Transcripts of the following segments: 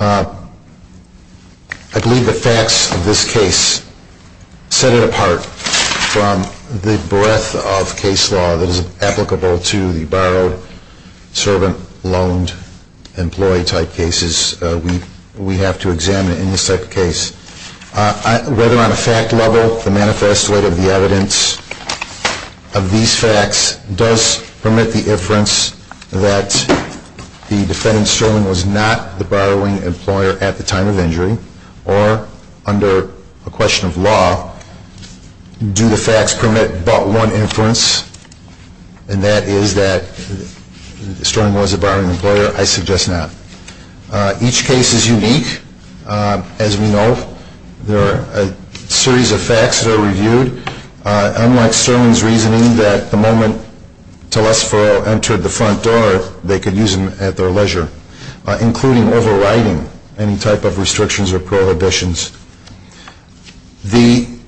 I believe the facts of this case set it apart from the breadth of case law that is applicable to the borrowed, servant, loaned, employee type cases we have to examine in this type of case. Whether on a fact level the manifesto of the evidence of these facts does permit the inference that the defendant, Sterling, was not the borrowing employer at the time of injury, or under a question of law, do the facts permit but one inference, and that is that Sterling was a borrowing employer? I suggest not. Each case is unique. As we know, there are a series of facts that are reviewed, unlike Sterling's reasoning that the moment Telesfero entered the front door, they could use him at their leisure, including overriding any type of restrictions or prohibitions.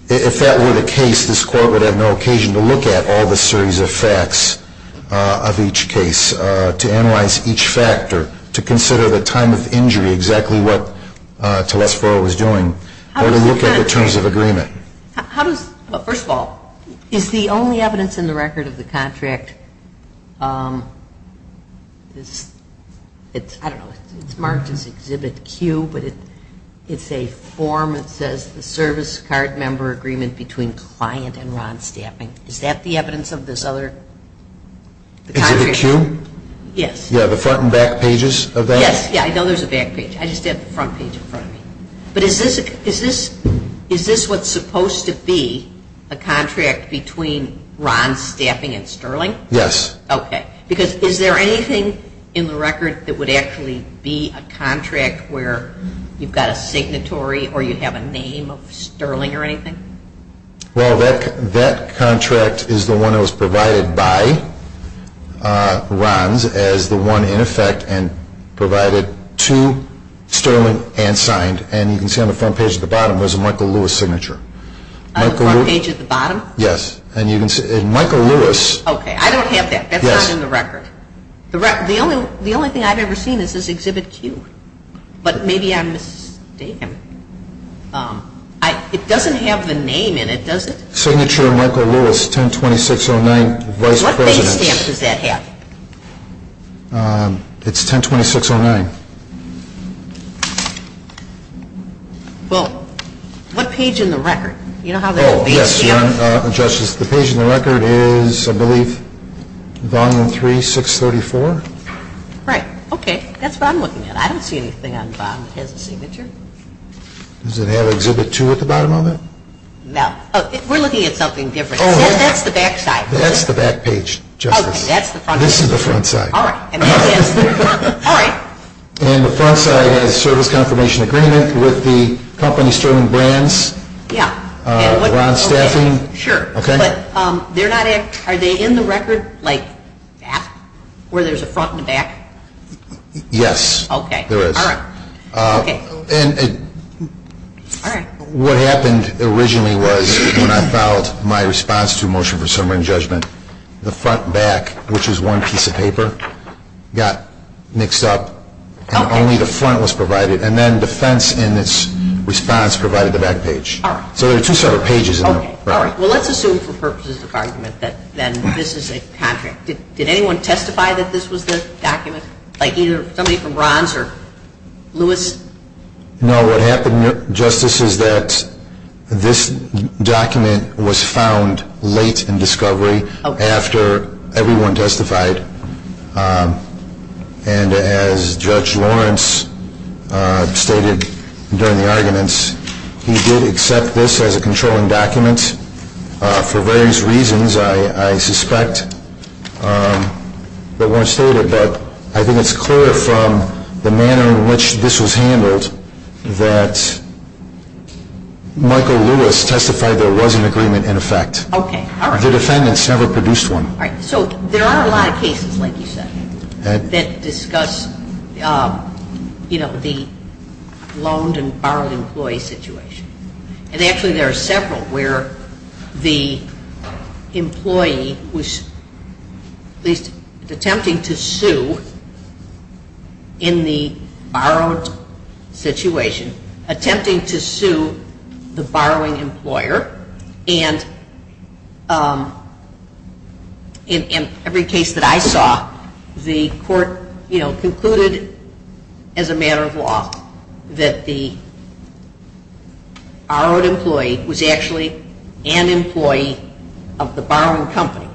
If that were the case, this Court would have no occasion to look at all the series of facts of each case, to analyze each factor, to consider the time of injury, exactly what Telesfero was doing, or to look at the terms of agreement. First of all, is the only evidence in the record of the contract, I don't know, it's marked as Exhibit Q, but it's a form that says the service card member agreement between client and Ron Staffing. Is that the evidence of this other contract? Is it the Q? Yes. Yeah, the front and back pages of that? Yes, I know there's a back page. I just have the front page in front of me. But is this what's supposed to be a contract between Ron Staffing and Sterling? Yes. Okay. Because is there anything in the record that would actually be a contract where you've got a signatory or you have a name of Sterling or anything? Well, that contract is the one that was provided by Ron's as the one in effect and provided to Sterling and signed. And you can see on the front page at the bottom there's a Michael Lewis signature. On the front page at the bottom? Yes. And you can see Michael Lewis. Okay, I don't have that. That's not in the record. Yes. The only thing I've ever seen is this Exhibit Q. But maybe I'm mistaken. It doesn't have the name in it, does it? Signature Michael Lewis, 10-2609, Vice President. What base stamp does that have? It's 10-2609. Well, what page in the record? You know how there's a base stamp? Yes, Justice. The page in the record is, I believe, Volume 3, 634. Right. Okay. That's what I'm looking at. I don't see anything on the bottom that has a signature. Does it have Exhibit 2 at the bottom of it? No. We're looking at something different. That's the back side. That's the back page, Justice. Okay, that's the front page. This is the front side. All right. And that is. All right. And the front side has service confirmation agreement with the company, Sterling Brands. Yeah. Ron Staffing. Sure. Okay. But are they in the record, like that, where there's a front and a back? Yes. Okay. There is. All right. Okay. And what happened originally was when I filed my response to a motion for summary and judgment, the front and back, which is one piece of paper, got mixed up. Okay. And only the front was provided. And then defense in its response provided the back page. All right. So there are two separate pages in there. Okay. All right. Well, let's assume for purposes of argument that this is a contract. Did anyone testify that this was the document, like either somebody from Ron's or Lewis? No. What happened, Justice, is that this document was found late in discovery after everyone testified. And as Judge Lawrence stated during the arguments, he did accept this as a controlling document for various reasons, I suspect. But I think it's clear from the manner in which this was handled that Michael Lewis testified there was an agreement in effect. Okay. All right. The defendants never produced one. All right. So there are a lot of cases, like you said, that discuss, you know, the loaned and borrowed employee situation. And actually there are several where the employee was at least attempting to sue in the borrowed situation, attempting to sue the borrowing employer. And in every case that I saw, the court, you know, concluded as a matter of law that the borrowed employee was actually an employee of the borrowing company.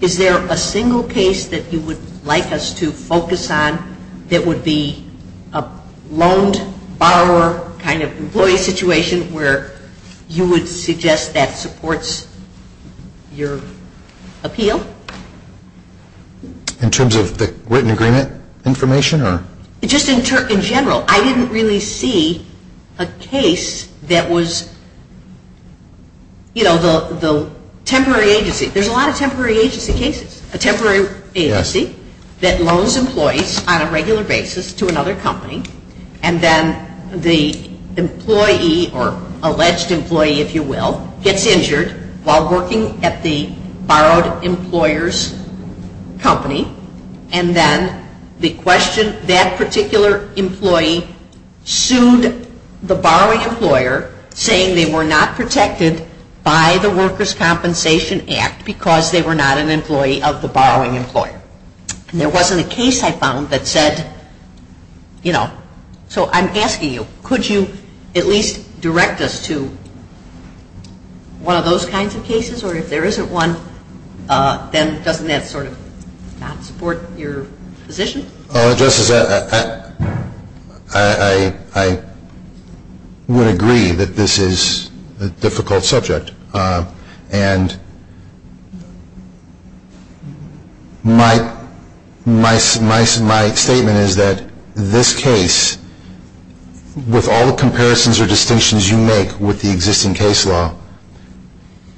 Is there a single case that you would like us to focus on that would be a loaned borrower kind of employee situation where you would suggest that supports your appeal? In terms of the written agreement information or? Just in general, I didn't really see a case that was, you know, the temporary agency. There's a lot of temporary agency cases. A temporary agency that loans employees on a regular basis to another company and then the employee or alleged employee, if you will, gets injured while working at the borrowed employer's company. And then the question, that particular employee sued the borrowing employer saying they were not protected by the Workers' Compensation Act because they were not an employee of the borrowing employer. And there wasn't a case I found that said, you know, so I'm asking you, could you at least direct us to one of those kinds of cases? Or if there isn't one, then doesn't that sort of not support your position? Justice, I would agree that this is a difficult subject. And my statement is that this case, with all the comparisons or distinctions you make with the existing case law,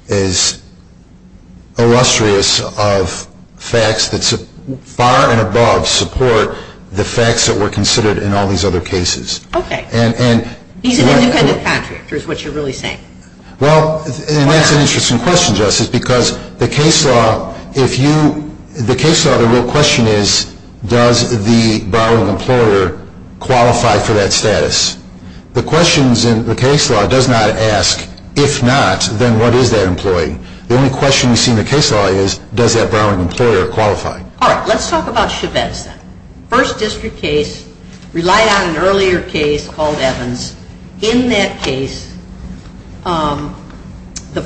is illustrious of facts that far and above support the facts that were considered in all these other cases. Okay. He's an independent contractor is what you're really saying. Well, and that's an interesting question, Justice, because the case law, if you, the case law, the real question is, does the borrowing employer qualify for that status? The questions in the case law does not ask, if not, then what is that employee? The only question we see in the case law is, does that borrowing employer qualify? All right. Let's talk about Chavez then. First district case relied on an earlier case called Evans. In that case, the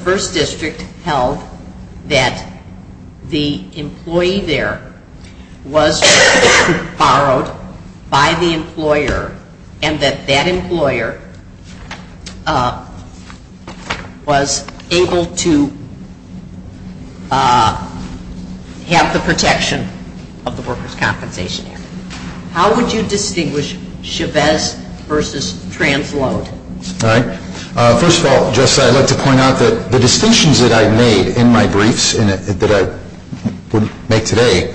first district held that the employee there was borrowed by the employer and that that employer was able to have the protection of the workers' compensation act. How would you distinguish Chavez versus Transload? All right. First of all, Justice, I'd like to point out that the distinctions that I made in my briefs, that I would make today,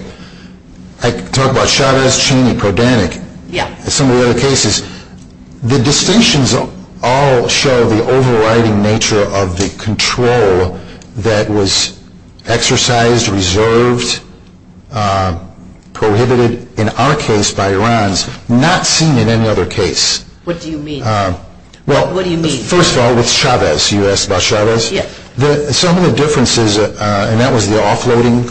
I talk about Chavez, Cheney, Prodanek. Yeah. The distinctions all show the overriding nature of the control that was exercised, reserved, prohibited in our case by Iran's, not seen in any other case. What do you mean? Well, first of all, with Chavez, you asked about Chavez. Yeah. Some of the differences, and that was the offloading,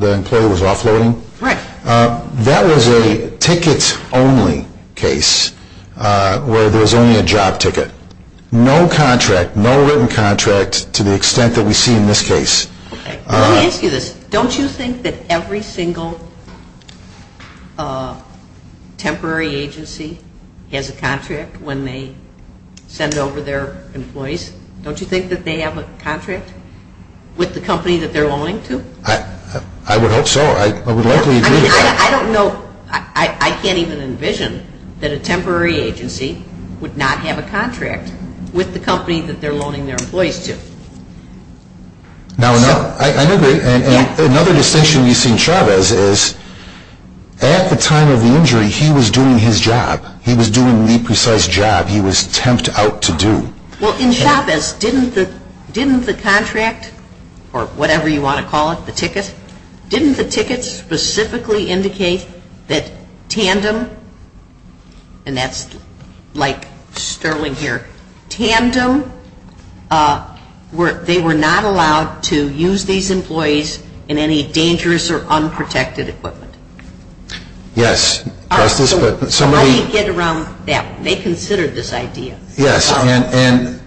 the employee was offloading. Right. That was a ticket-only case where there was only a job ticket. No contract, no written contract to the extent that we see in this case. Okay. Let me ask you this. Don't you think that every single temporary agency has a contract when they send over their employees? Don't you think that they have a contract with the company that they're loaning to? I would hope so. I would likely agree with that. I don't know. I can't even envision that a temporary agency would not have a contract with the company that they're loaning their employees to. Now, I agree. Another distinction we see in Chavez is at the time of the injury, he was doing his job. He was doing the precise job he was temped out to do. Well, in Chavez, didn't the contract, or whatever you want to call it, the ticket, didn't the ticket specifically indicate that Tandem, and that's like Sterling here, Tandem, they were not allowed to use these employees in any dangerous or unprotected equipment? Yes. How do you get around that? They considered this idea. Yes. And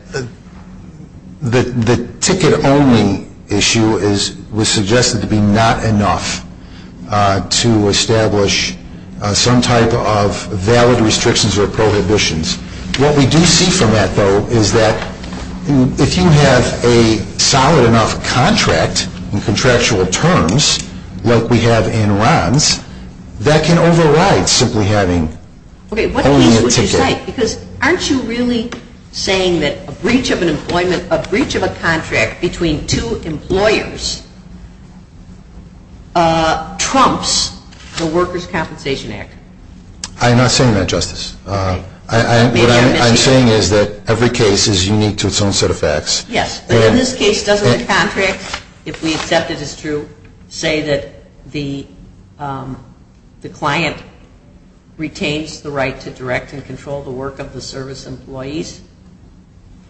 the ticket-only issue was suggested to be not enough to establish some type of valid restrictions or prohibitions. What we do see from that, though, is that if you have a solid enough contract in contractual terms, like we have in RONs, that can override simply having only a ticket. Okay, what piece would you cite? Because aren't you really saying that a breach of an employment, a breach of a contract between two employers trumps the Workers' Compensation Act? I'm not saying that, Justice. What I'm saying is that every case is unique to its own set of facts. Yes. But in this case, doesn't the contract, if we accept it as true, say that the client retains the right to direct and control the work of the service employees?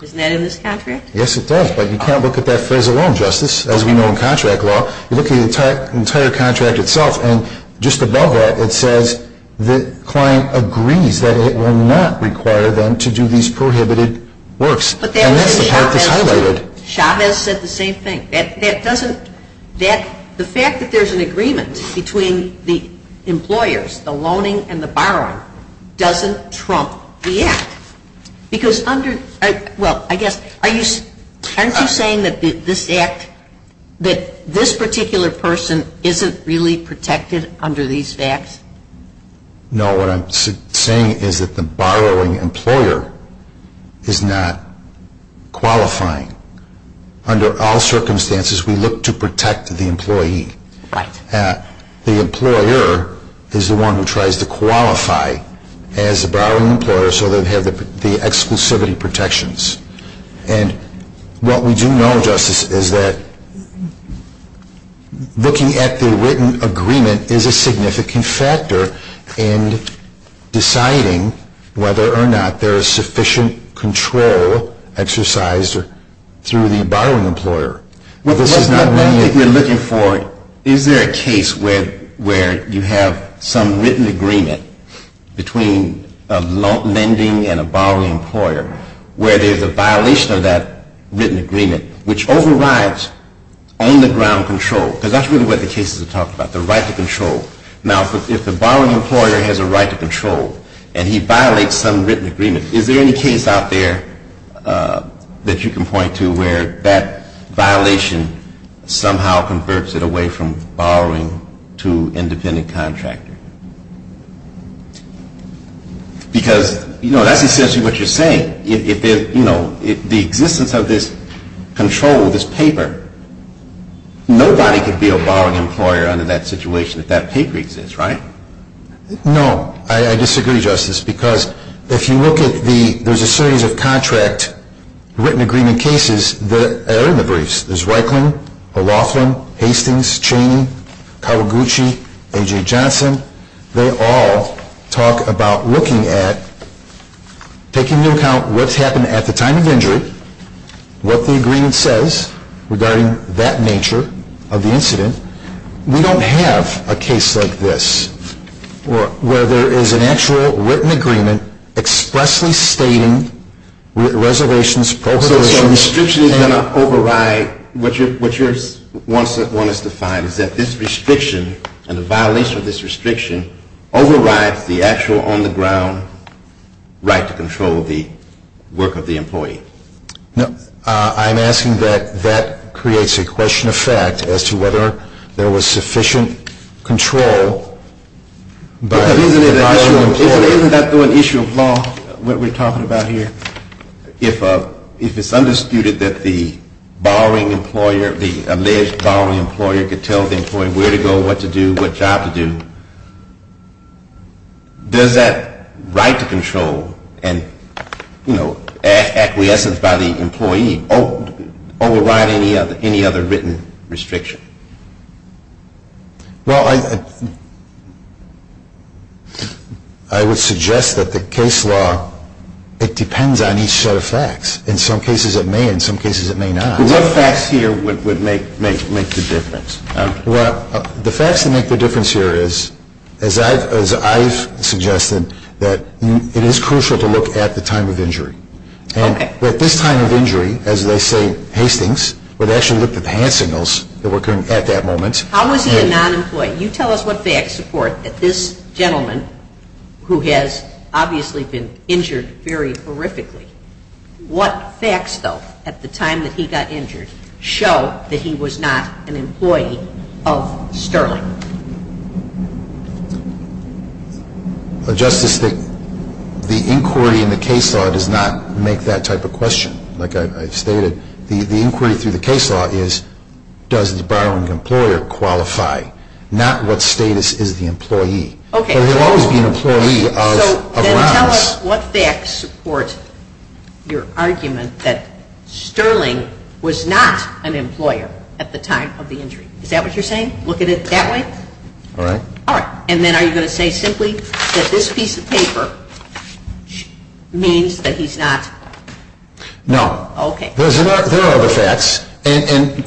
Isn't that in this contract? Yes, it does. But you can't look at that phrase alone, Justice, as we know in contract law. You look at the entire contract itself, and just above that, it says the client agrees that it will not require them to do these prohibited works. And that's the part that's highlighted. Chavez said the same thing. The fact that there's an agreement between the employers, the loaning and the borrowing, doesn't trump the Act. Because under, well, I guess, aren't you saying that this Act, that this particular person isn't really protected under these facts? No, what I'm saying is that the borrowing employer is not qualifying. Under all circumstances, we look to protect the employee. Right. The employer is the one who tries to qualify as the borrowing employer so they have the exclusivity protections. And what we do know, Justice, is that looking at the written agreement is a significant factor in deciding whether or not there is sufficient control exercised through the borrowing employer. Well, that's not what we're looking for. Is there a case where you have some written agreement between a lending and a borrowing employer where there's a violation of that written agreement, which overrides on-the-ground control? Because that's really what the cases are talking about, the right to control. Now, if the borrowing employer has a right to control and he violates some written agreement, is there any case out there that you can point to where that violation somehow converts it away from borrowing to independent contractor? Because, you know, that's essentially what you're saying. If the existence of this control, this paper, nobody can be a borrowing employer under that situation if that paper exists, right? No. I disagree, Justice, because if you look at the, there's a series of contract written agreement cases that are in the briefs. There's Reikland, O'Loughlin, Hastings, Chaney, Kawaguchi, A.J. Johnson, they all talk about looking at taking into account what's happened at the time of injury, what the agreement says regarding that nature of the incident. We don't have a case like this where there is an actual written agreement expressly stating reservations, prohibitions. So a restriction is going to override what you want us to find, is that this restriction and the violation of this restriction overrides the actual on-the-ground right to control the work of the employee. I'm asking that that creates a question of fact as to whether there was sufficient control. Isn't that through an issue of law, what we're talking about here? If it's undisputed that the borrowing employer, the alleged borrowing employer, could tell the employee where to go, what to do, what job to do, does that right to control and acquiescence by the employee override any other written restriction? Well, I would suggest that the case law, it depends on each set of facts. In some cases it may, in some cases it may not. What facts here would make the difference? Well, the facts that make the difference here is, as I've suggested, that it is crucial to look at the time of injury. At this time of injury, as they say, Hastings, where they actually looked at the hand signals that were occurring at that moment. How was he a non-employee? You tell us what facts support that this gentleman, who has obviously been injured very horrifically, what facts, though, at the time that he got injured, show that he was not an employee of Sterling? Well, Justice, the inquiry in the case law does not make that type of question. Like I've stated, the inquiry through the case law is, does the borrowing employer qualify? Not what status is the employee. Okay. But he'll always be an employee of Browns. So then tell us what facts support your argument that Sterling was not an employer at the time of the injury. Is that what you're saying? Look at it that way? All right. All right. And then are you going to say simply that this piece of paper means that he's not? No. Okay. There are other facts.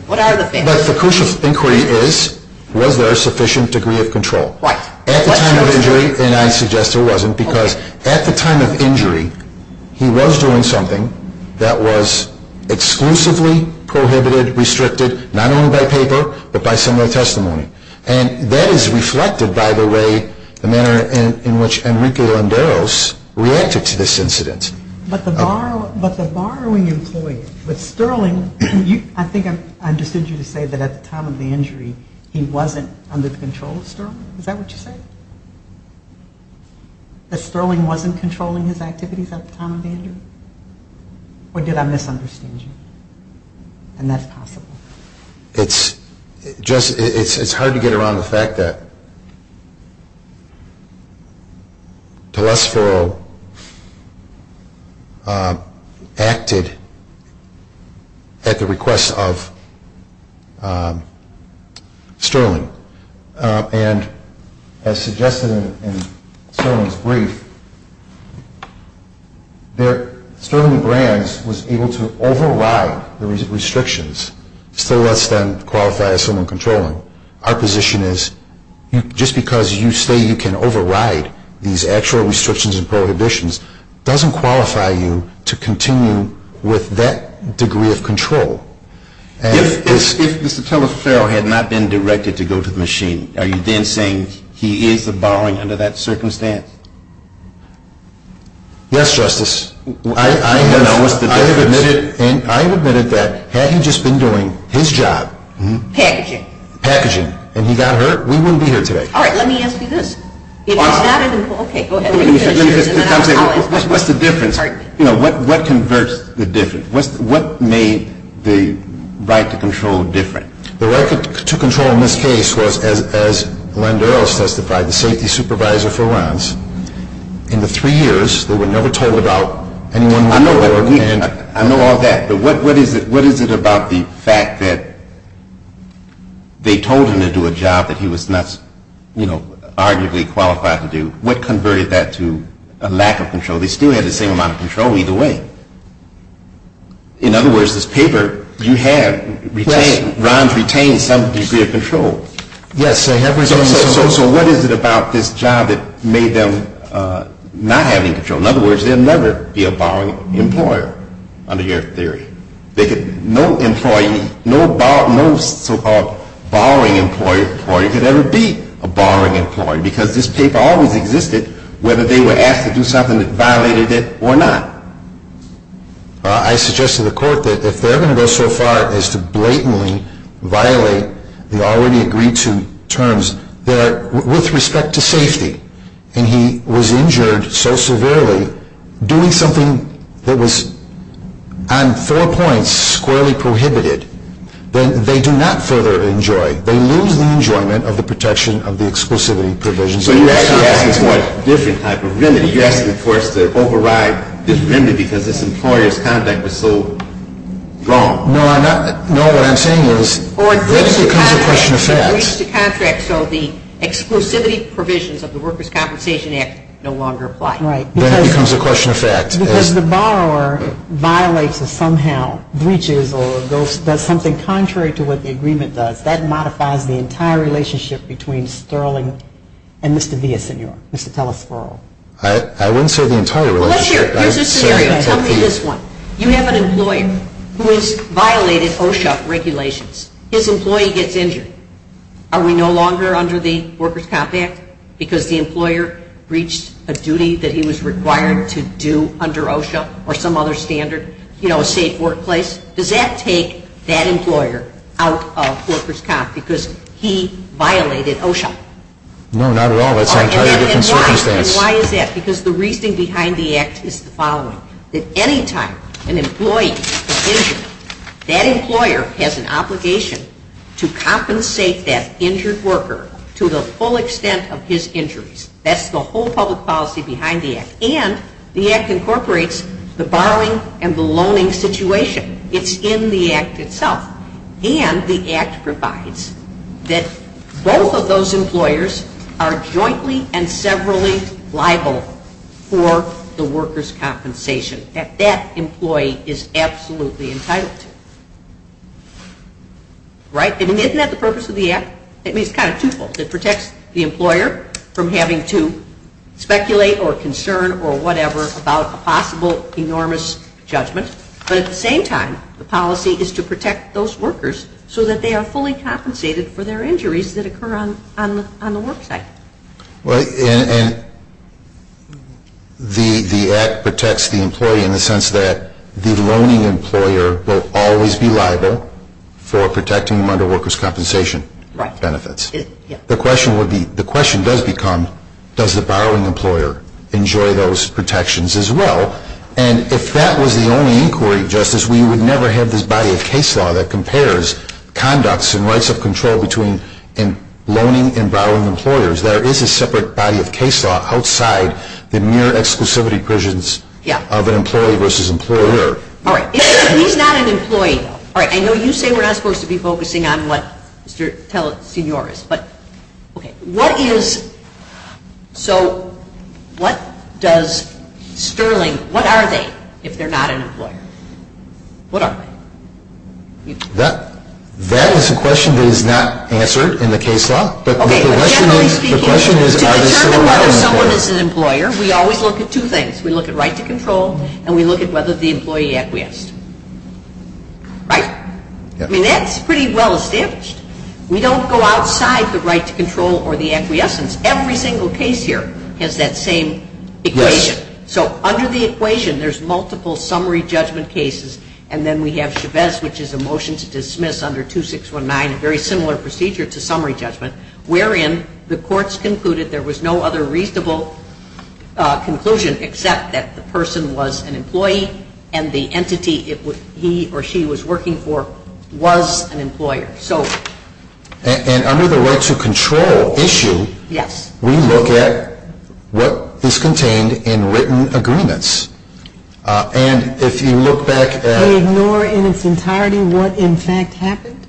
What are the facts? But the crucial inquiry is, was there a sufficient degree of control? Right. At the time of injury, and I suggest there wasn't, because at the time of injury, he was doing something that was exclusively prohibited, restricted, not only by paper, but by similar testimony. And that is reflected, by the way, the manner in which Enrique Landeros reacted to this incident. But the borrowing employee, with Sterling, I think I understood you to say that at the time of the injury, he wasn't under the control of Sterling. Is that what you're saying? That Sterling wasn't controlling his activities at the time of the injury? Or did I misunderstand you? And that's possible. It's hard to get around the fact that Talesforo acted at the request of Sterling. And as suggested in Sterling's brief, Sterling Brands was able to override the restrictions, still less than qualified as someone controlling. Our position is, just because you say you can override these actual restrictions and prohibitions, doesn't qualify you to continue with that degree of control. If Mr. Talesforo had not been directed to go to the machine, are you then saying he is the borrowing under that circumstance? Yes, Justice. I have admitted that had he just been doing his job. Packaging. Packaging. And he got hurt, we wouldn't be here today. All right. Let me ask you this. What's the difference? What converts the difference? What made the right to control different? The right to control in this case was, as Landeros testified, by the safety supervisor for Rons. In the three years, they were never told about anyone. I know all that. But what is it about the fact that they told him to do a job that he was not, you know, arguably qualified to do? What converted that to a lack of control? They still had the same amount of control either way. In other words, this paper you have, Rons retained some degree of control. Yes. So what is it about this job that made them not have any control? In other words, there would never be a borrowing employer under your theory. No employee, no so-called borrowing employee could ever be a borrowing employee because this paper always existed whether they were asked to do something that violated it or not. I suggest to the Court that if they're going to go so far as to blatantly violate the already agreed-to terms, with respect to safety, and he was injured so severely doing something that was on four points squarely prohibited, then they do not further enjoy. They lose the enjoyment of the protection of the exclusivity provisions. So you're actually asking for a different type of remedy. You're asking for us to override this remedy because this employer's conduct was so wrong. No, what I'm saying is this becomes a question of fact. Or breach the contract so the exclusivity provisions of the Workers' Compensation Act no longer apply. Right. Then it becomes a question of fact. Because the borrower violates or somehow breaches or does something contrary to what the agreement does, that modifies the entire relationship between Sterling and Mr. Villasenor, Mr. Telesferro. I wouldn't say the entire relationship. Well, here's a scenario. Tell me this one. You have an employer who has violated OSHA regulations. His employee gets injured. Are we no longer under the Workers' Comp Act? Because the employer breached a duty that he was required to do under OSHA or some other standard, you know, a safe workplace? Does that take that employer out of Workers' Comp because he violated OSHA? No, not at all. That's an entirely different circumstance. And why is that? Because the reasoning behind the act is the following. That any time an employee is injured, that employer has an obligation to compensate that injured worker to the full extent of his injuries. That's the whole public policy behind the act. And the act incorporates the borrowing and the loaning situation. It's in the act itself. And the act provides that both of those employers are jointly and severally liable for the workers' compensation that that employee is absolutely entitled to. Right? Isn't that the purpose of the act? I mean, it's kind of twofold. It protects the employer from having to speculate or concern or whatever about a possible enormous judgment. But at the same time, the policy is to protect those workers so that they are fully compensated for their injuries that occur on the work site. And the act protects the employee in the sense that the loaning employer will always be liable for protecting them under workers' compensation benefits. Right. The question does become, does the borrowing employer enjoy those protections as well? And if that was the only inquiry, Justice, we would never have this body of case law that compares conducts and rights of control between loaning and borrowing employers. There is a separate body of case law outside the mere exclusivity provisions of an employee versus employer. All right. He's not an employee, though. All right. I know you say we're not supposed to be focusing on what Mr. Telesignore is. So what does Sterling, what are they if they're not an employer? What are they? That is a question that is not answered in the case law. But generally speaking, to determine whether someone is an employer, we always look at two things. We look at right to control and we look at whether the employee acquiesced. Right? I mean, that's pretty well established. We don't go outside the right to control or the acquiescence. Every single case here has that same equation. Yes. So under the equation, there's multiple summary judgment cases, and then we have Chavez, which is a motion to dismiss under 2619, a very similar procedure to summary judgment, wherein the courts concluded there was no other reasonable conclusion except that the person was an employee and the entity he or she was working for was an employer. And under the right to control issue, we look at what is contained in written agreements. And if you look back at... They ignore in its entirety what in fact happened?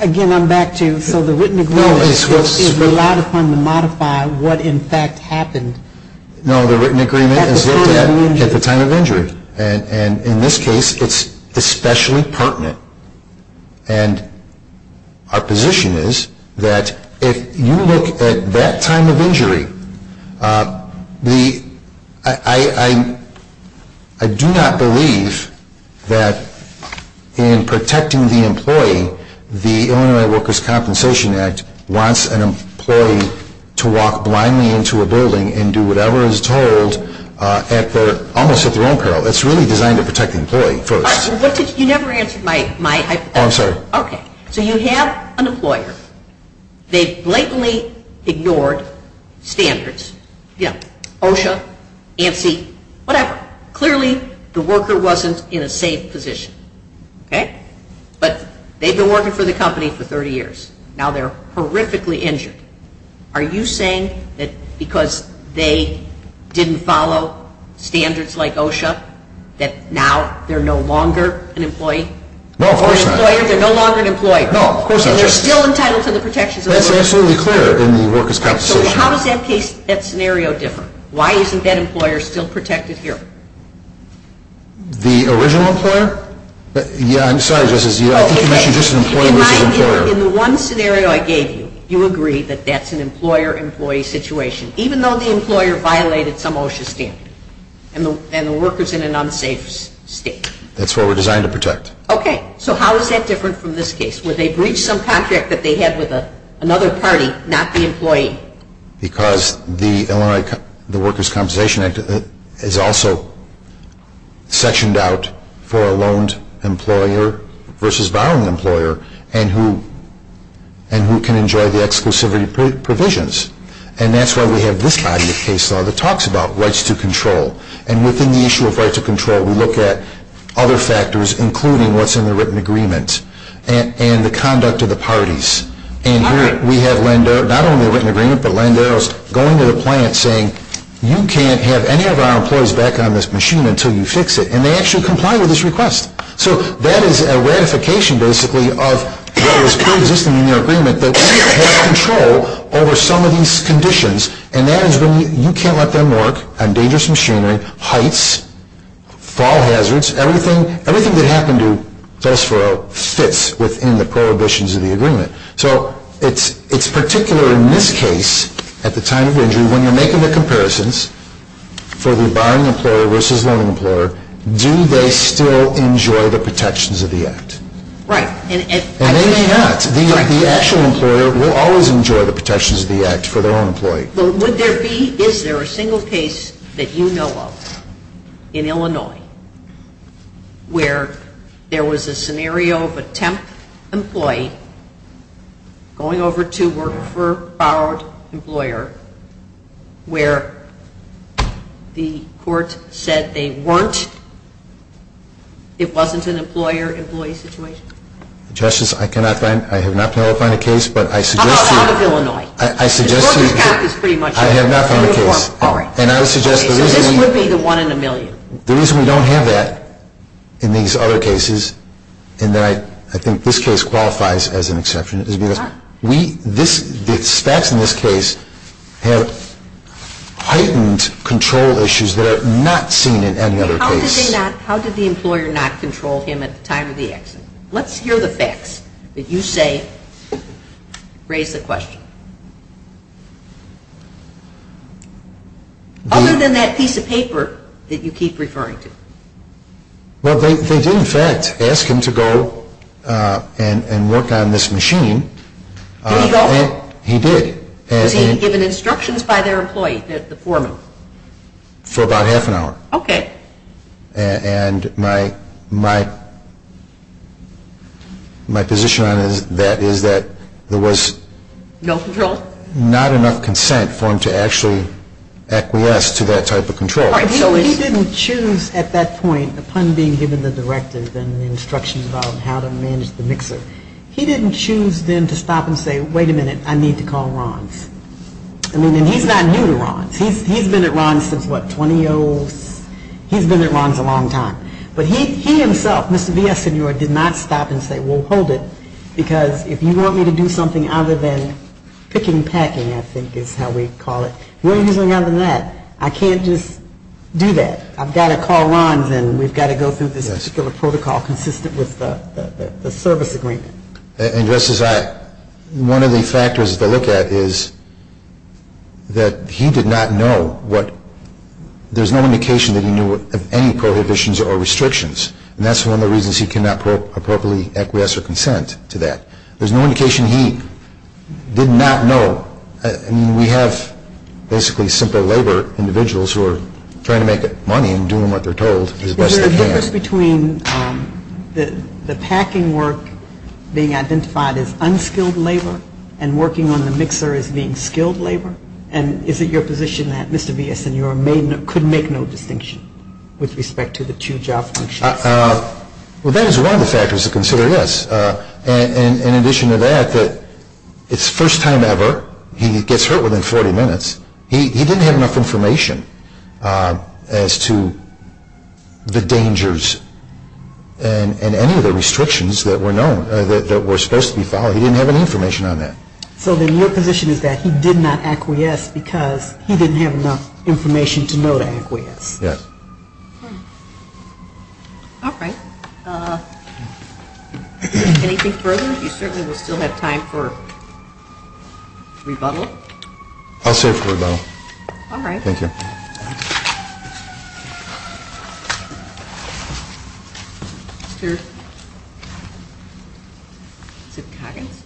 Again, I'm back to, so the written agreement is relied upon to modify what in fact happened. No, the written agreement is looked at at the time of injury. And in this case, it's especially pertinent. And our position is that if you look at that time of injury, I do not believe that in protecting the employee, the Illinois Workers' Compensation Act wants an employee to walk blindly into a building and do whatever is told almost at their own peril. It's really designed to protect the employee first. You never answered my hypothetical. I'm sorry. Okay. So you have an employer. They blatantly ignored standards, OSHA, ANSI, whatever. Clearly, the worker wasn't in a safe position. But they've been working for the company for 30 years. Now they're horrifically injured. Are you saying that because they didn't follow standards like OSHA, that now they're no longer an employee? No, of course not. They're no longer an employer. No, of course not. And they're still entitled to the protections of the workers? That's absolutely clear in the Workers' Compensation Act. So how does that scenario differ? Why isn't that employer still protected here? The original employer? Yeah, I'm sorry, Justice. I think you mentioned just an employee versus an employer. In the one scenario I gave you, you agree that that's an employer-employee situation, even though the employer violated some OSHA standard and the worker's in an unsafe state. That's what we're designed to protect. Okay. So how is that different from this case, where they breached some contract that they had with another party, not the employee? Because the Workers' Compensation Act is also sectioned out for a loaned employer versus a borrowing employer, and who can enjoy the exclusivity provisions. And that's why we have this body of case law that talks about rights to control. And within the issue of rights to control, we look at other factors, including what's in the written agreement and the conduct of the parties. And here we have Landero, not only a written agreement, but Landero's going to the plant saying, you can't have any of our employees back on this machine until you fix it. And they actually comply with this request. So that is a ratification, basically, of what is preexisting in your agreement, that you have control over some of these conditions, and that is when you can't let them work on dangerous machinery, heights, fall hazards. Everything that happened to Felsforo fits within the prohibitions of the agreement. So it's particular in this case, at the time of injury, when you're making the comparisons for the borrowing employer versus the loan employer, do they still enjoy the protections of the act? Right. And they may not. The actual employer will always enjoy the protections of the act for their own employee. Well, would there be, is there a single case that you know of in Illinois where there was a scenario of a temp employee going over to work for a borrowed employer where the court said they weren't, it wasn't an employer-employee situation? Justice, I cannot find, I have not been able to find a case, but I suggest to you. How about out of Illinois? I suggest to you. The workers' cap is pretty much uniform. I have not found a case. And I would suggest the reason. So this would be the one in a million. The reason we don't have that in these other cases, and that I think this case qualifies as an exception, is because the facts in this case have heightened control issues that are not seen in any other case. How did the employer not control him at the time of the accident? Let's hear the facts. If you say, raise the question. Other than that piece of paper that you keep referring to. Well, they did in fact ask him to go and work on this machine. Did he go? He did. Was he given instructions by their employee, the foreman? For about half an hour. Okay. And my position on that is that there was not enough consent for him to actually acquiesce to that type of control. He didn't choose at that point, upon being given the directive and instructions on how to manage the mixer, he didn't choose then to stop and say, wait a minute, I need to call Ron's. I mean, and he's not new to Ron's. He's been at Ron's since, what, 20-oh, he's been at Ron's a long time. But he himself, Mr. Villaseñor, did not stop and say, well, hold it, because if you want me to do something other than picking packing, I think is how we call it, I can't just do that. I've got to call Ron's and we've got to go through this particular protocol consistent with the service agreement. And just as I, one of the factors to look at is that he did not know what, there's no indication that he knew of any prohibitions or restrictions, and that's one of the reasons he cannot appropriately acquiesce or consent to that. There's no indication he did not know. I mean, we have basically simple labor individuals who are trying to make money and doing what they're told as best they can. Is there a difference between the packing work being identified as unskilled labor and working on the mixer as being skilled labor? And is it your position that Mr. Villaseñor could make no distinction with respect to the two job functions? Well, that is one of the factors to consider, yes. In addition to that, it's the first time ever he gets hurt within 40 minutes. He didn't have enough information as to the dangers and any of the restrictions that were known, that were supposed to be followed. He didn't have any information on that. So then your position is that he did not acquiesce because he didn't have enough information to know to acquiesce. Yes. All right. Anything further? You certainly will still have time for rebuttal. I'll serve for rebuttal. All right. Thank you. Mr. Coggins.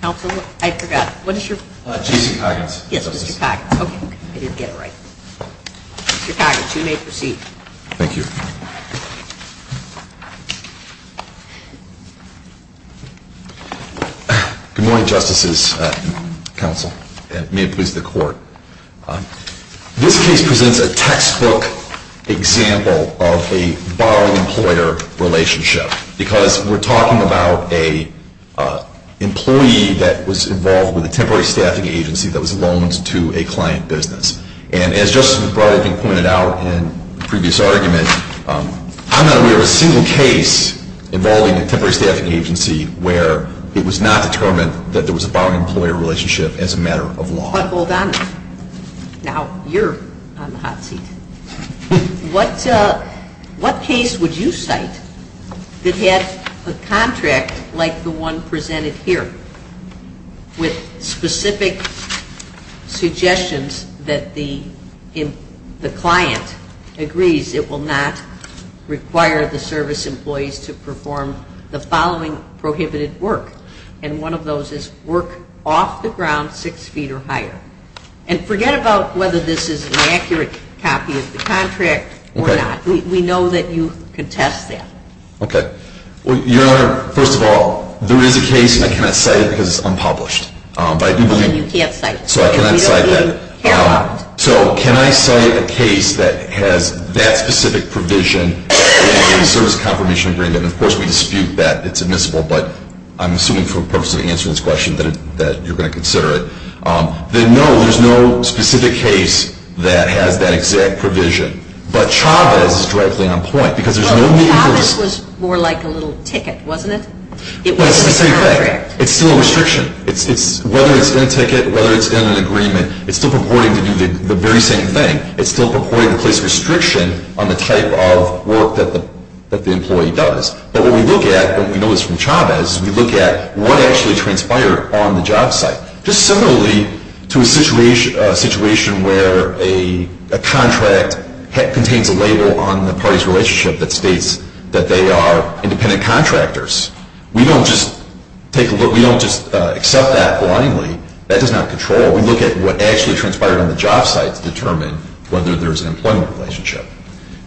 Counsel, I forgot. What is your? Jason Coggins. Yes, Mr. Coggins. Okay. I didn't get it right. Mr. Coggins, you may proceed. Thank you. Good morning, Justices, Counsel, and may it please the Court. This case presents a textbook example of a borrowing employer relationship because we're talking about an employee that was involved with a temporary staffing agency that was loaned to a client business. And as Justice McBride had pointed out in the previous argument, I'm not aware of a single case involving a temporary staffing agency where it was not determined that there was a borrowing employer relationship as a matter of law. But hold on. Now you're on the hot seat. What case would you cite that had a contract like the one presented here with specific suggestions that the client agrees it will not require the service employees to perform the following prohibited work? And one of those is work off the ground six feet or higher. And forget about whether this is an accurate copy of the contract or not. Okay. We know that you contest that. Okay. Your Honor, first of all, there is a case, and I cannot cite it because it's unpublished. You can't cite it. So I cannot cite that. So can I cite a case that has that specific provision in the service confirmation agreement? And, of course, we dispute that it's admissible, but I'm assuming for the purpose of answering this question that you're going to consider it. Then, no, there's no specific case that has that exact provision. But Chavez is directly on point because there's no need for this. This was more like a little ticket, wasn't it? Well, it's the same thing. It's still a restriction. Whether it's in a ticket, whether it's in an agreement, it's still purporting to do the very same thing. It's still purporting to place restriction on the type of work that the employee does. But what we look at, and we know this from Chavez, is we look at what actually transpired on the job site, just similarly to a situation where a contract contains a label on the party's relationship that states that they are independent contractors. We don't just take a look. We don't just accept that blindly. That does not control. We look at what actually transpired on the job site to determine whether there's an employment relationship.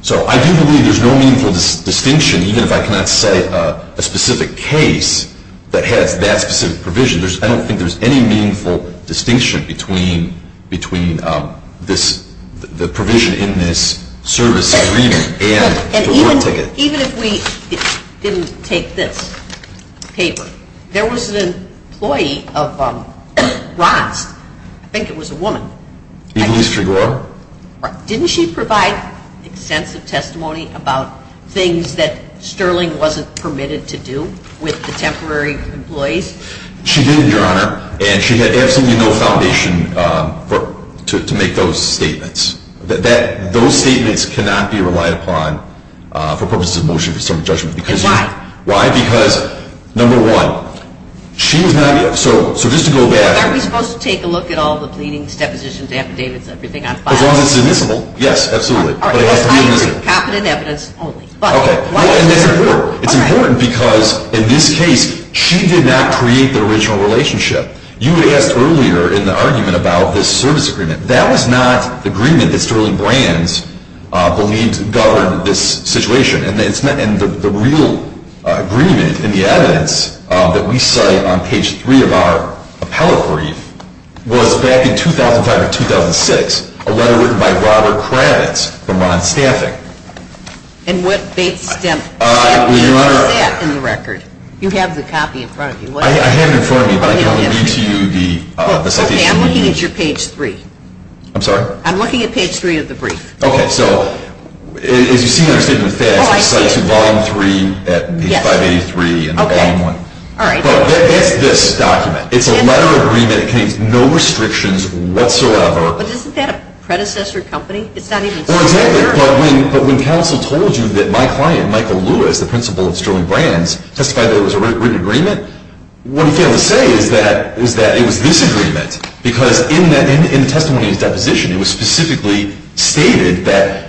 So I do believe there's no meaningful distinction, even if I cannot cite a specific case that has that specific provision. I don't think there's any meaningful distinction between the provision in this service agreement and the work ticket. Even if we didn't take this paper, there was an employee of Ross. I think it was a woman. Elise Trigora? Didn't she provide extensive testimony about things that Sterling wasn't permitted to do with the temporary employees? She did, Your Honor. And she had absolutely no foundation to make those statements. Those statements cannot be relied upon for purposes of motion for assembly judgment. And why? Why? Because, number one, she was not – so just to go back – Are we supposed to take a look at all the pleadings, depositions, affidavits, everything on file? As long as it's admissible. Yes, absolutely. But it has to be admissible. Confident evidence only. Okay. And that's important. It's important because, in this case, she did not create the original relationship. You asked earlier in the argument about this service agreement. That was not the agreement that Sterling Brands believed governed this situation. And the real agreement in the evidence that we cite on page 3 of our appellate brief was back in 2005 or 2006, a letter written by Robert Kravitz from Ron Staffing. And what date stamp is that in the record? You have the copy in front of you. I have it in front of me, but I can only read to you the citation. Okay, I'm looking at your page 3. I'm sorry? I'm looking at page 3 of the brief. Okay. So, as you see in your statement of facts, it cites volume 3 at page 583 in volume 1. Okay. All right. But it's this document. It's a letter of agreement. It contains no restrictions whatsoever. But isn't that a predecessor company? Well, exactly. But when counsel told you that my client, Michael Lewis, the principal of Sterling Brands, testified that it was a written agreement, what he failed to say is that it was this agreement, because in the testimony in his deposition, it was specifically stated that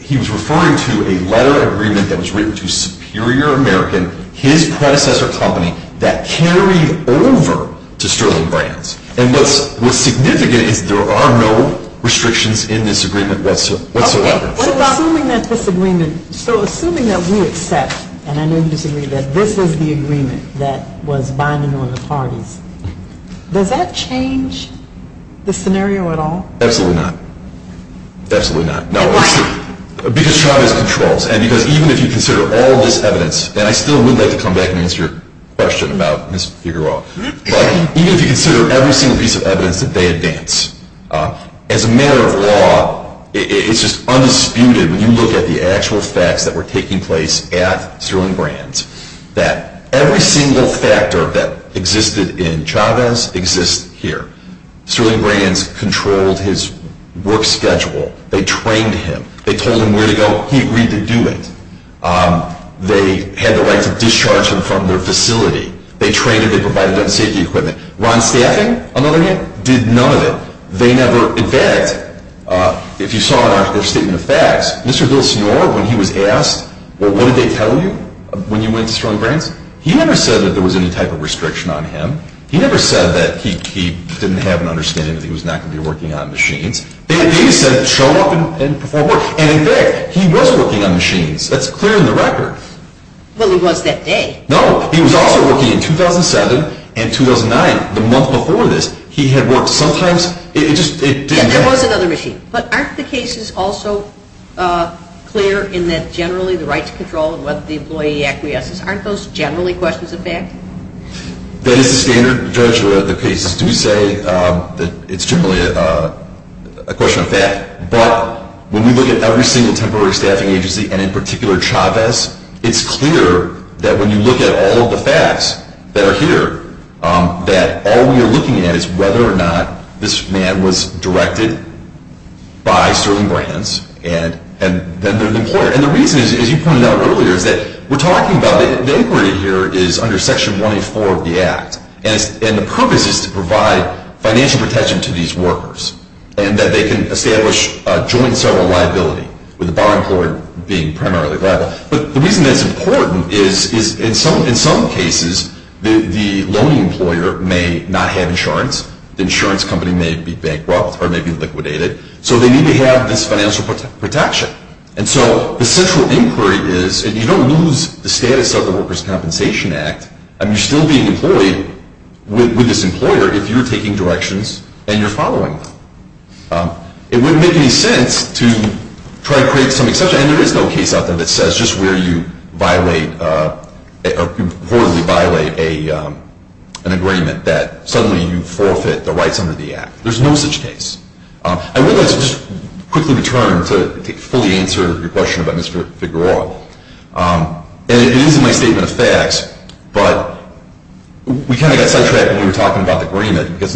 he was referring to a letter of agreement that was written to Superior American, his predecessor company, that carried over to Sterling Brands. And what's significant is there are no restrictions in this agreement whatsoever. Okay. Assuming that this agreement, so assuming that we accept, and I know you disagree, that this is the agreement that was binding on the parties, does that change the scenario at all? Absolutely not. Absolutely not. Why? Because Travis controls, and because even if you consider all this evidence, and I still would like to come back and answer your question about Ms. Figueroa, but even if you consider every single piece of evidence that they advance, as a matter of law, it's just undisputed when you look at the actual facts that were taking place at Sterling Brands that every single factor that existed in Travis exists here. Sterling Brands controlled his work schedule. They trained him. They told him where to go. He agreed to do it. They had the right to discharge him from their facility. They trained him. They provided him safety equipment. Ron Staffing, another name, did none of it. They never, in fact, if you saw their statement of facts, Mr. Villasenor, when he was asked, well, what did they tell you when you went to Sterling Brands? He never said that there was any type of restriction on him. He never said that he didn't have an understanding that he was not going to be working on machines. They just said show up and perform work. And in fact, he was working on machines. That's clear in the record. Well, he was that day. No. He was also working in 2007 and 2009, the month before this. He had worked sometimes. It just didn't matter. And there was another machine. But aren't the cases also clear in that generally the right to control and whether the employee acquiesces, aren't those generally questions of fact? That is the standard. Judge, the cases do say that it's generally a question of fact. But when we look at every single temporary staffing agency, and in particular Travis, it's clear that when you look at all of the facts that are here, that all we are looking at is whether or not this man was directed by Sterling Brands, and then they're the employer. And the reason, as you pointed out earlier, is that we're talking about it. The inquiry here is under Section 184 of the Act. And the purpose is to provide financial protection to these workers, and that they can establish a joint civil liability with the bar employer being primarily liable. But the reason that's important is in some cases the loaning employer may not have insurance. The insurance company may be bankrupt or may be liquidated. So they need to have this financial protection. And so the central inquiry is, and you don't lose the status of the Workers' Compensation Act. You're still being employed with this employer if you're taking directions and you're following them. It wouldn't make any sense to try to create some exception. And there is no case out there that says just where you violate or reportedly violate an agreement that suddenly you forfeit the rights under the Act. There's no such case. I want to just quickly return to fully answer your question about Mr. Figueroa. It is in my statement of facts, but we kind of got sidetracked when you were talking about the agreement or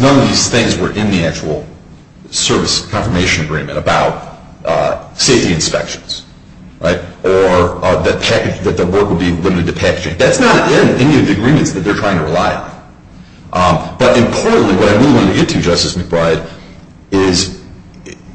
that the work would be limited to packaging. That's not in any of the agreements that they're trying to rely on. But importantly, what I really want to get to, Justice McBride, is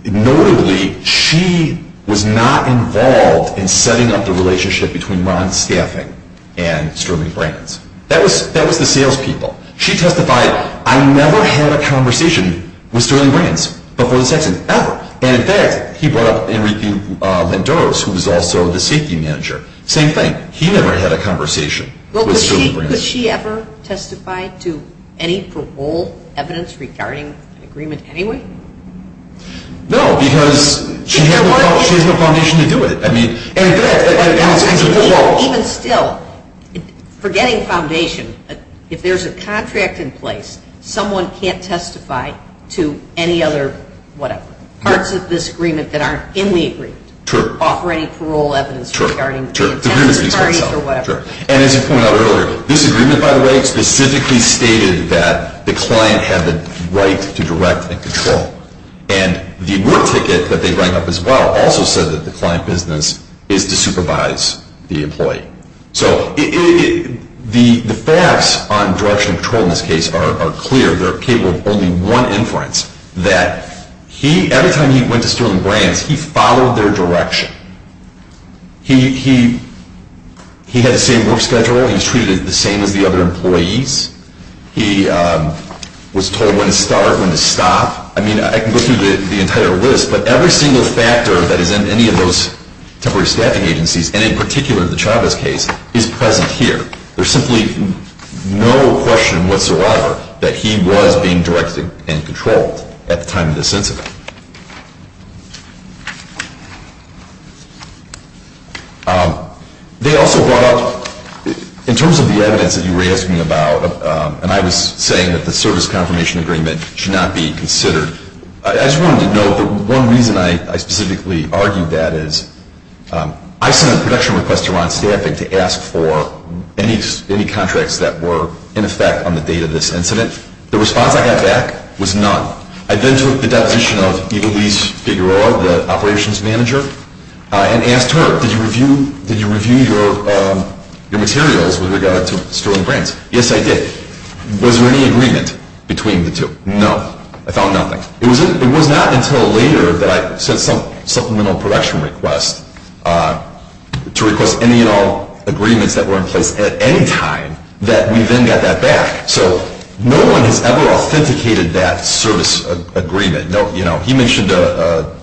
notably she was not involved in setting up the relationship between Ron's staffing and Sterling Brands. That was the salespeople. She testified, I never had a conversation with Sterling Brands before this accident, ever. And, in fact, he brought up Enrique Lendoros, who was also the safety manager. Same thing. He never had a conversation with Sterling Brands. Well, could she ever testify to any parole evidence regarding an agreement anyway? No, because she has no foundation to do it. I mean, and, in fact, that announces a parole. Even still, forgetting foundation, if there's a contract in place, someone can't testify to any other whatever. Parts of this agreement that aren't in the agreement. True. Offering parole evidence. True. And, as you pointed out earlier, this agreement, by the way, specifically stated that the client had the right to direct and control. And the work ticket that they bring up as well also said that the client business is to supervise the employee. So the facts on direction and control in this case are clear. They're capable of only one inference. That every time he went to Sterling Brands, he followed their direction. He had the same work schedule. He was treated the same as the other employees. He was told when to start, when to stop. I mean, I can go through the entire list, but every single factor that is in any of those temporary staffing agencies, and in particular the Chavez case, is present here. There's simply no question whatsoever that he was being directed and controlled at the time of this incident. They also brought up, in terms of the evidence that you were asking about, and I was saying that the service confirmation agreement should not be considered. I just wanted to note that one reason I specifically argued that is I sent a production request to Ron Stafford to ask for any contracts that were in effect on the date of this incident. The response I got back was none. I then took the deposition of Ivelisse Figueroa, the operations manager, and asked her, did you review your materials with regard to Sterling Brands? Yes, I did. Was there any agreement between the two? No. I found nothing. It was not until later that I sent some supplemental production request to request any and all agreements that were in place at any time that we then got that back. So no one has ever authenticated that service agreement. He mentioned a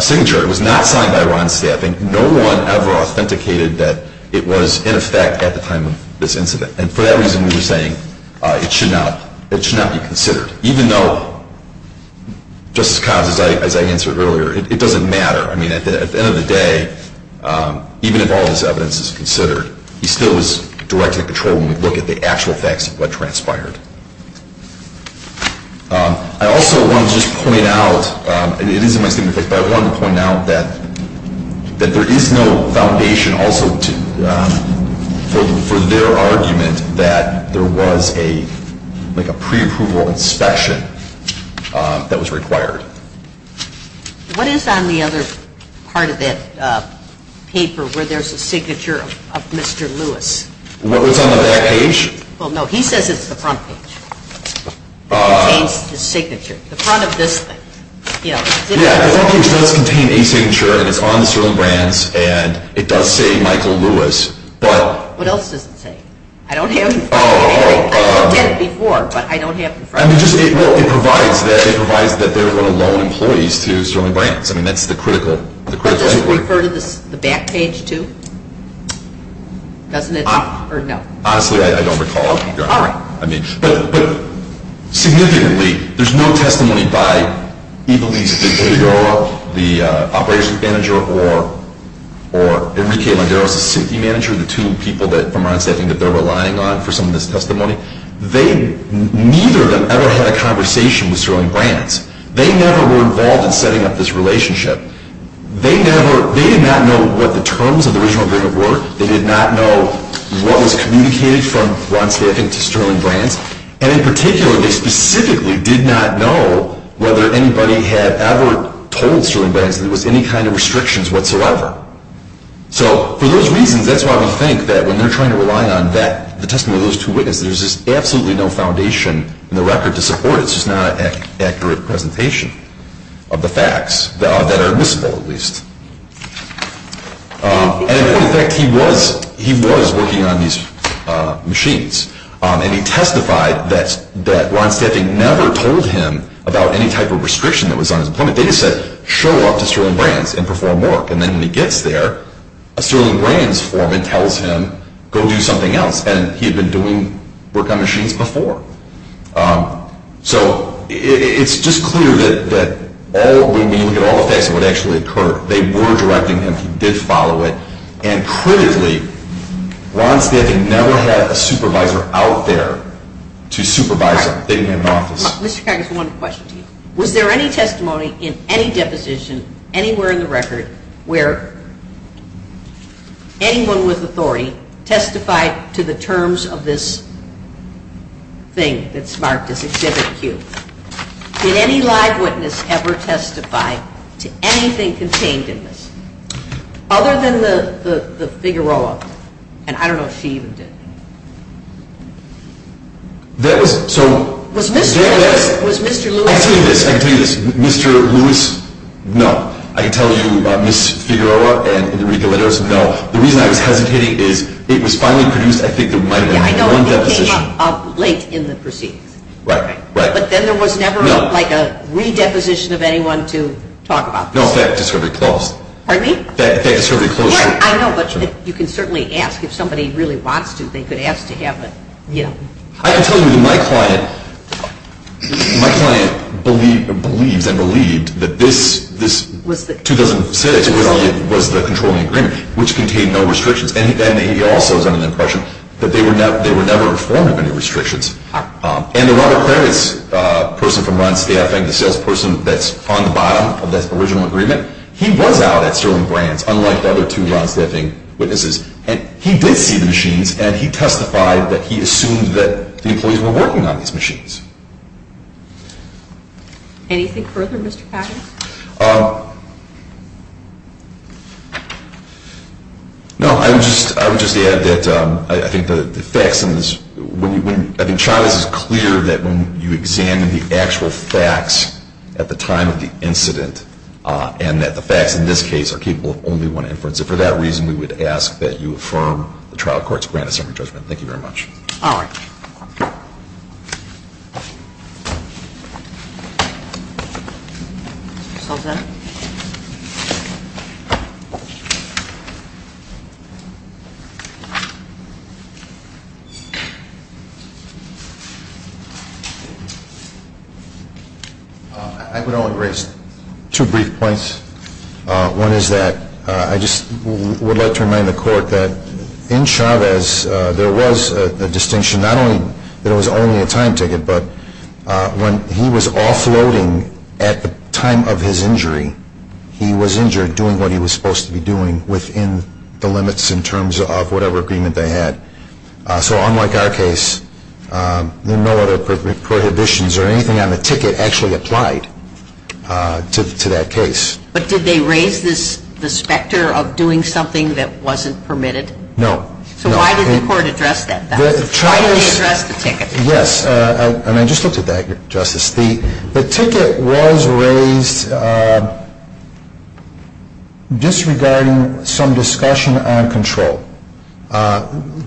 signature. It was not signed by Ron Stafford. No one ever authenticated that it was in effect at the time of this incident. And for that reason, we were saying it should not be considered, even though, Justice Collins, as I answered earlier, it doesn't matter. I mean, at the end of the day, even if all this evidence is considered, he still is directly in control when we look at the actual facts of what transpired. I also wanted to just point out, and it is in my statement of facts, but I wanted to point out that there is no foundation also for their argument that there was a preapproval inspection that was required. What is on the other part of that paper where there is a signature of Mr. Lewis? What was on the back page? Well, no, he says it's the front page. It contains his signature. The front of this thing. Yeah, the front page does contain a signature, and it's on the Sterling Brands, and it does say Michael Lewis. What else does it say? I don't have it in front of me. I looked at it before, but I don't have it in front of me. It provides that they're going to loan employees to Sterling Brands. I mean, that's the critical evidence. But does it refer to the back page too? Doesn't it? Honestly, I don't recall. All right. But significantly, there's no testimony by either of these individuals, the operations manager or Enrique Landeros, the safety manager, the two people from Ron Staffing that they're relying on for some of this testimony. Neither of them ever had a conversation with Sterling Brands. They never were involved in setting up this relationship. They did not know what the terms of the original agreement were. They did not know what was communicated from Ron Staffing to Sterling Brands. And in particular, they specifically did not know whether anybody had ever told Sterling Brands that there was any kind of restrictions whatsoever. So for those reasons, that's why we think that when they're trying to rely on the testimony of those two witnesses, there's just absolutely no foundation in the record to support it. It's just not an accurate presentation of the facts that are admissible, at least. And in point of fact, he was working on these machines. And he testified that Ron Staffing never told him about any type of restriction that was on his employment data set, show up to Sterling Brands and perform work. And then when he gets there, a Sterling Brands foreman tells him, go do something else. And he had been doing work on machines before. So it's just clear that all the meaning and all the facts of what actually occurred. They were directing him. He did follow it. And critically, Ron Staffing never had a supervisor out there to supervise him. They didn't have an office. Mr. Cagas, I have one question to you. Where anyone with authority testified to the terms of this thing that's marked as Exhibit Q? Did any live witness ever testify to anything contained in this other than the Figueroa? And I don't know if she even did. That was – so – Was Mr. Lewis – I'll tell you this. I'll tell you this. Mr. Lewis, no. I can tell you Ms. Figueroa and Enrique Leto, no. The reason I was hesitating is it was finally produced. I think there might have been one deposition. Yeah, I know. It came up late in the proceedings. Right. Right. But then there was never like a redeposition of anyone to talk about this. No, that just sort of closed. Pardon me? That just sort of closed. Yeah, I know. But you can certainly ask. If somebody really wants to, they could ask to have it, you know. I can tell you that my client believes and believed that this 2006 was the controlling agreement, which contained no restrictions. And he also is under the impression that they were never informed of any restrictions. And the Robert Kravitz person from Ron Steffing, the salesperson that's on the bottom of this original agreement, he was out at Sterling Brands, unlike the other two Ron Steffing witnesses. And he did see the machines, and he testified that he assumed that the employees were working on these machines. Anything further, Mr. Packard? No, I would just add that I think the facts in this, I think Charles is clear that when you examine the actual facts at the time of the incident, and that the facts in this case are capable of only one inference. And for that reason, we would ask that you affirm the trial court's grant of summary judgment. Thank you very much. All right. I would only raise two brief points. One is that I just would like to remind the court that in Chavez, there was a distinction not only that it was only a time ticket, but when he was offloading at the time of his injury, he was injured doing what he was supposed to be doing within the limits in terms of whatever agreement they had. So unlike our case, there are no other prohibitions or anything on the ticket actually applied to that case. But did they raise the specter of doing something that wasn't permitted? No. So why did the court address that then? Why did they address the ticket? Yes, and I just looked at that, Justice. The ticket was raised disregarding some discussion on control,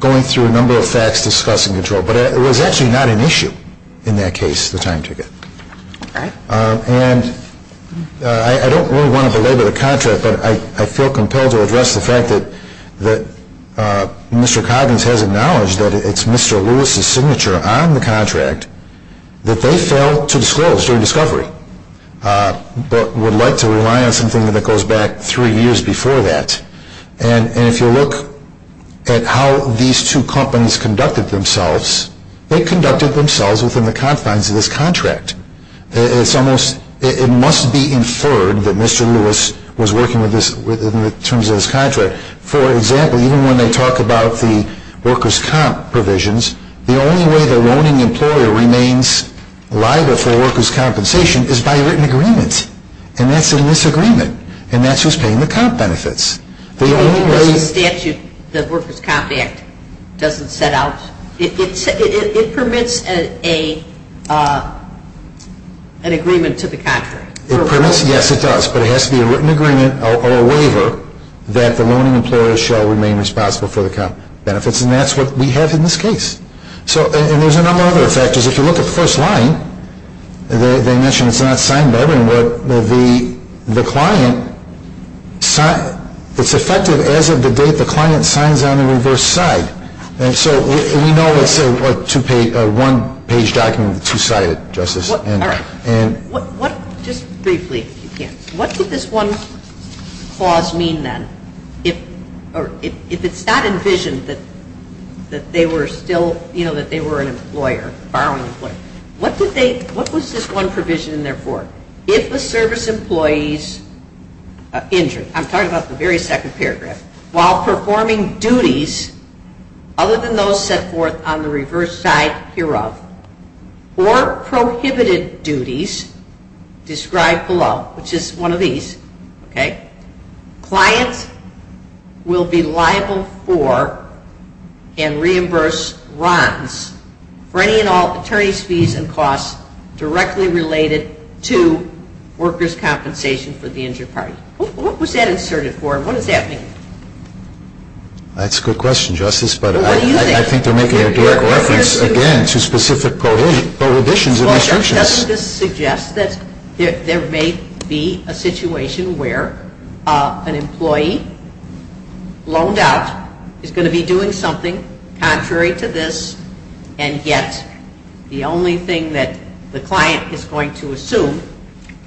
going through a number of facts discussing control. But it was actually not an issue in that case, the time ticket. All right. And I don't really want to belabor the contract, but I feel compelled to address the fact that Mr. Coggins has acknowledged that it's Mr. Lewis's signature on the contract that they failed to disclose during discovery, but would like to rely on something that goes back three years before that. And if you look at how these two companies conducted themselves, they conducted themselves within the confines of this contract. It must be inferred that Mr. Lewis was working within the terms of this contract. For example, even when they talk about the workers' comp provisions, the only way the loaning employer remains liable for workers' compensation is by a written agreement. And that's a misagreement. And that's who's paying the comp benefits. Because the statute, the Workers' Comp Act, doesn't set out, it permits an agreement to the contract. Yes, it does. But it has to be a written agreement or a waiver that the loaning employer shall remain responsible for the comp benefits. And that's what we have in this case. And there's a number of other factors. If you look at the first line, they mention it's not signed by everyone. But the client, it's effective as of the date the client signs on the reverse side. And so we know it's a one-page document, two-sided, Justice. All right. Just briefly, if you can, what did this one clause mean then? If it's not envisioned that they were still, you know, that they were an employer, a borrowing employer, what was this one provision in there for? If a service employee's injury, I'm talking about the very second paragraph, while performing duties other than those set forth on the reverse side hereof, or prohibited duties described below, which is one of these, okay, for any and all attorney's fees and costs directly related to workers' compensation for the injured party. What was that inserted for? What does that mean? That's a good question, Justice, but I think they're making a direct reference again to specific prohibitions and restrictions. Doesn't this suggest that there may be a situation where an employee loaned out is going to be doing something contrary to this and yet the only thing that the client is going to assume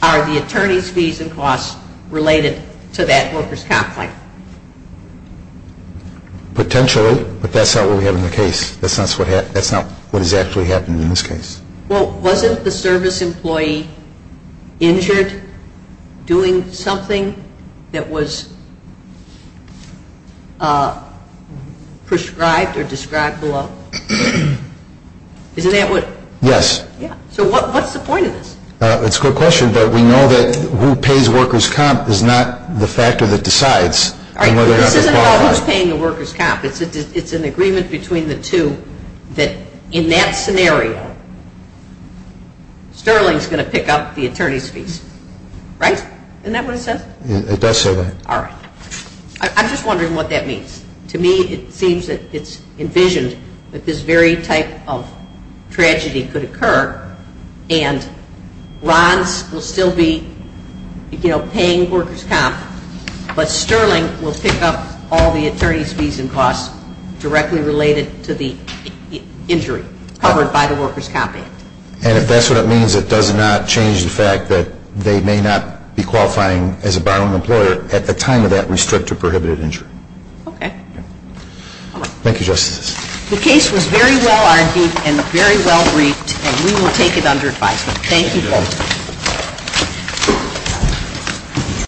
are the attorney's fees and costs related to that worker's complaint? Potentially, but that's not what we have in the case. That's not what has actually happened in this case. Well, wasn't the service employee injured doing something that was prescribed or described below? Isn't that what? Yes. So what's the point of this? It's a good question, but we know that who pays worker's comp is not the factor that decides. This isn't about who's paying the worker's comp. It's an agreement between the two that in that scenario, Sterling's going to pick up the attorney's fees, right? Isn't that what it says? It does say that. All right. I'm just wondering what that means. To me, it seems that it's envisioned that this very type of tragedy could occur and Ron's will still be, you know, paying worker's comp, but Sterling will pick up all the attorney's fees and costs directly related to the injury covered by the worker's comp act. And if that's what it means, it does not change the fact that they may not be qualifying as a borrowing employer at the time of that restricted or prohibited injury. Okay. Thank you, Justices. The case was very well argued and very well briefed, and we will take it under advisement. Thank you both.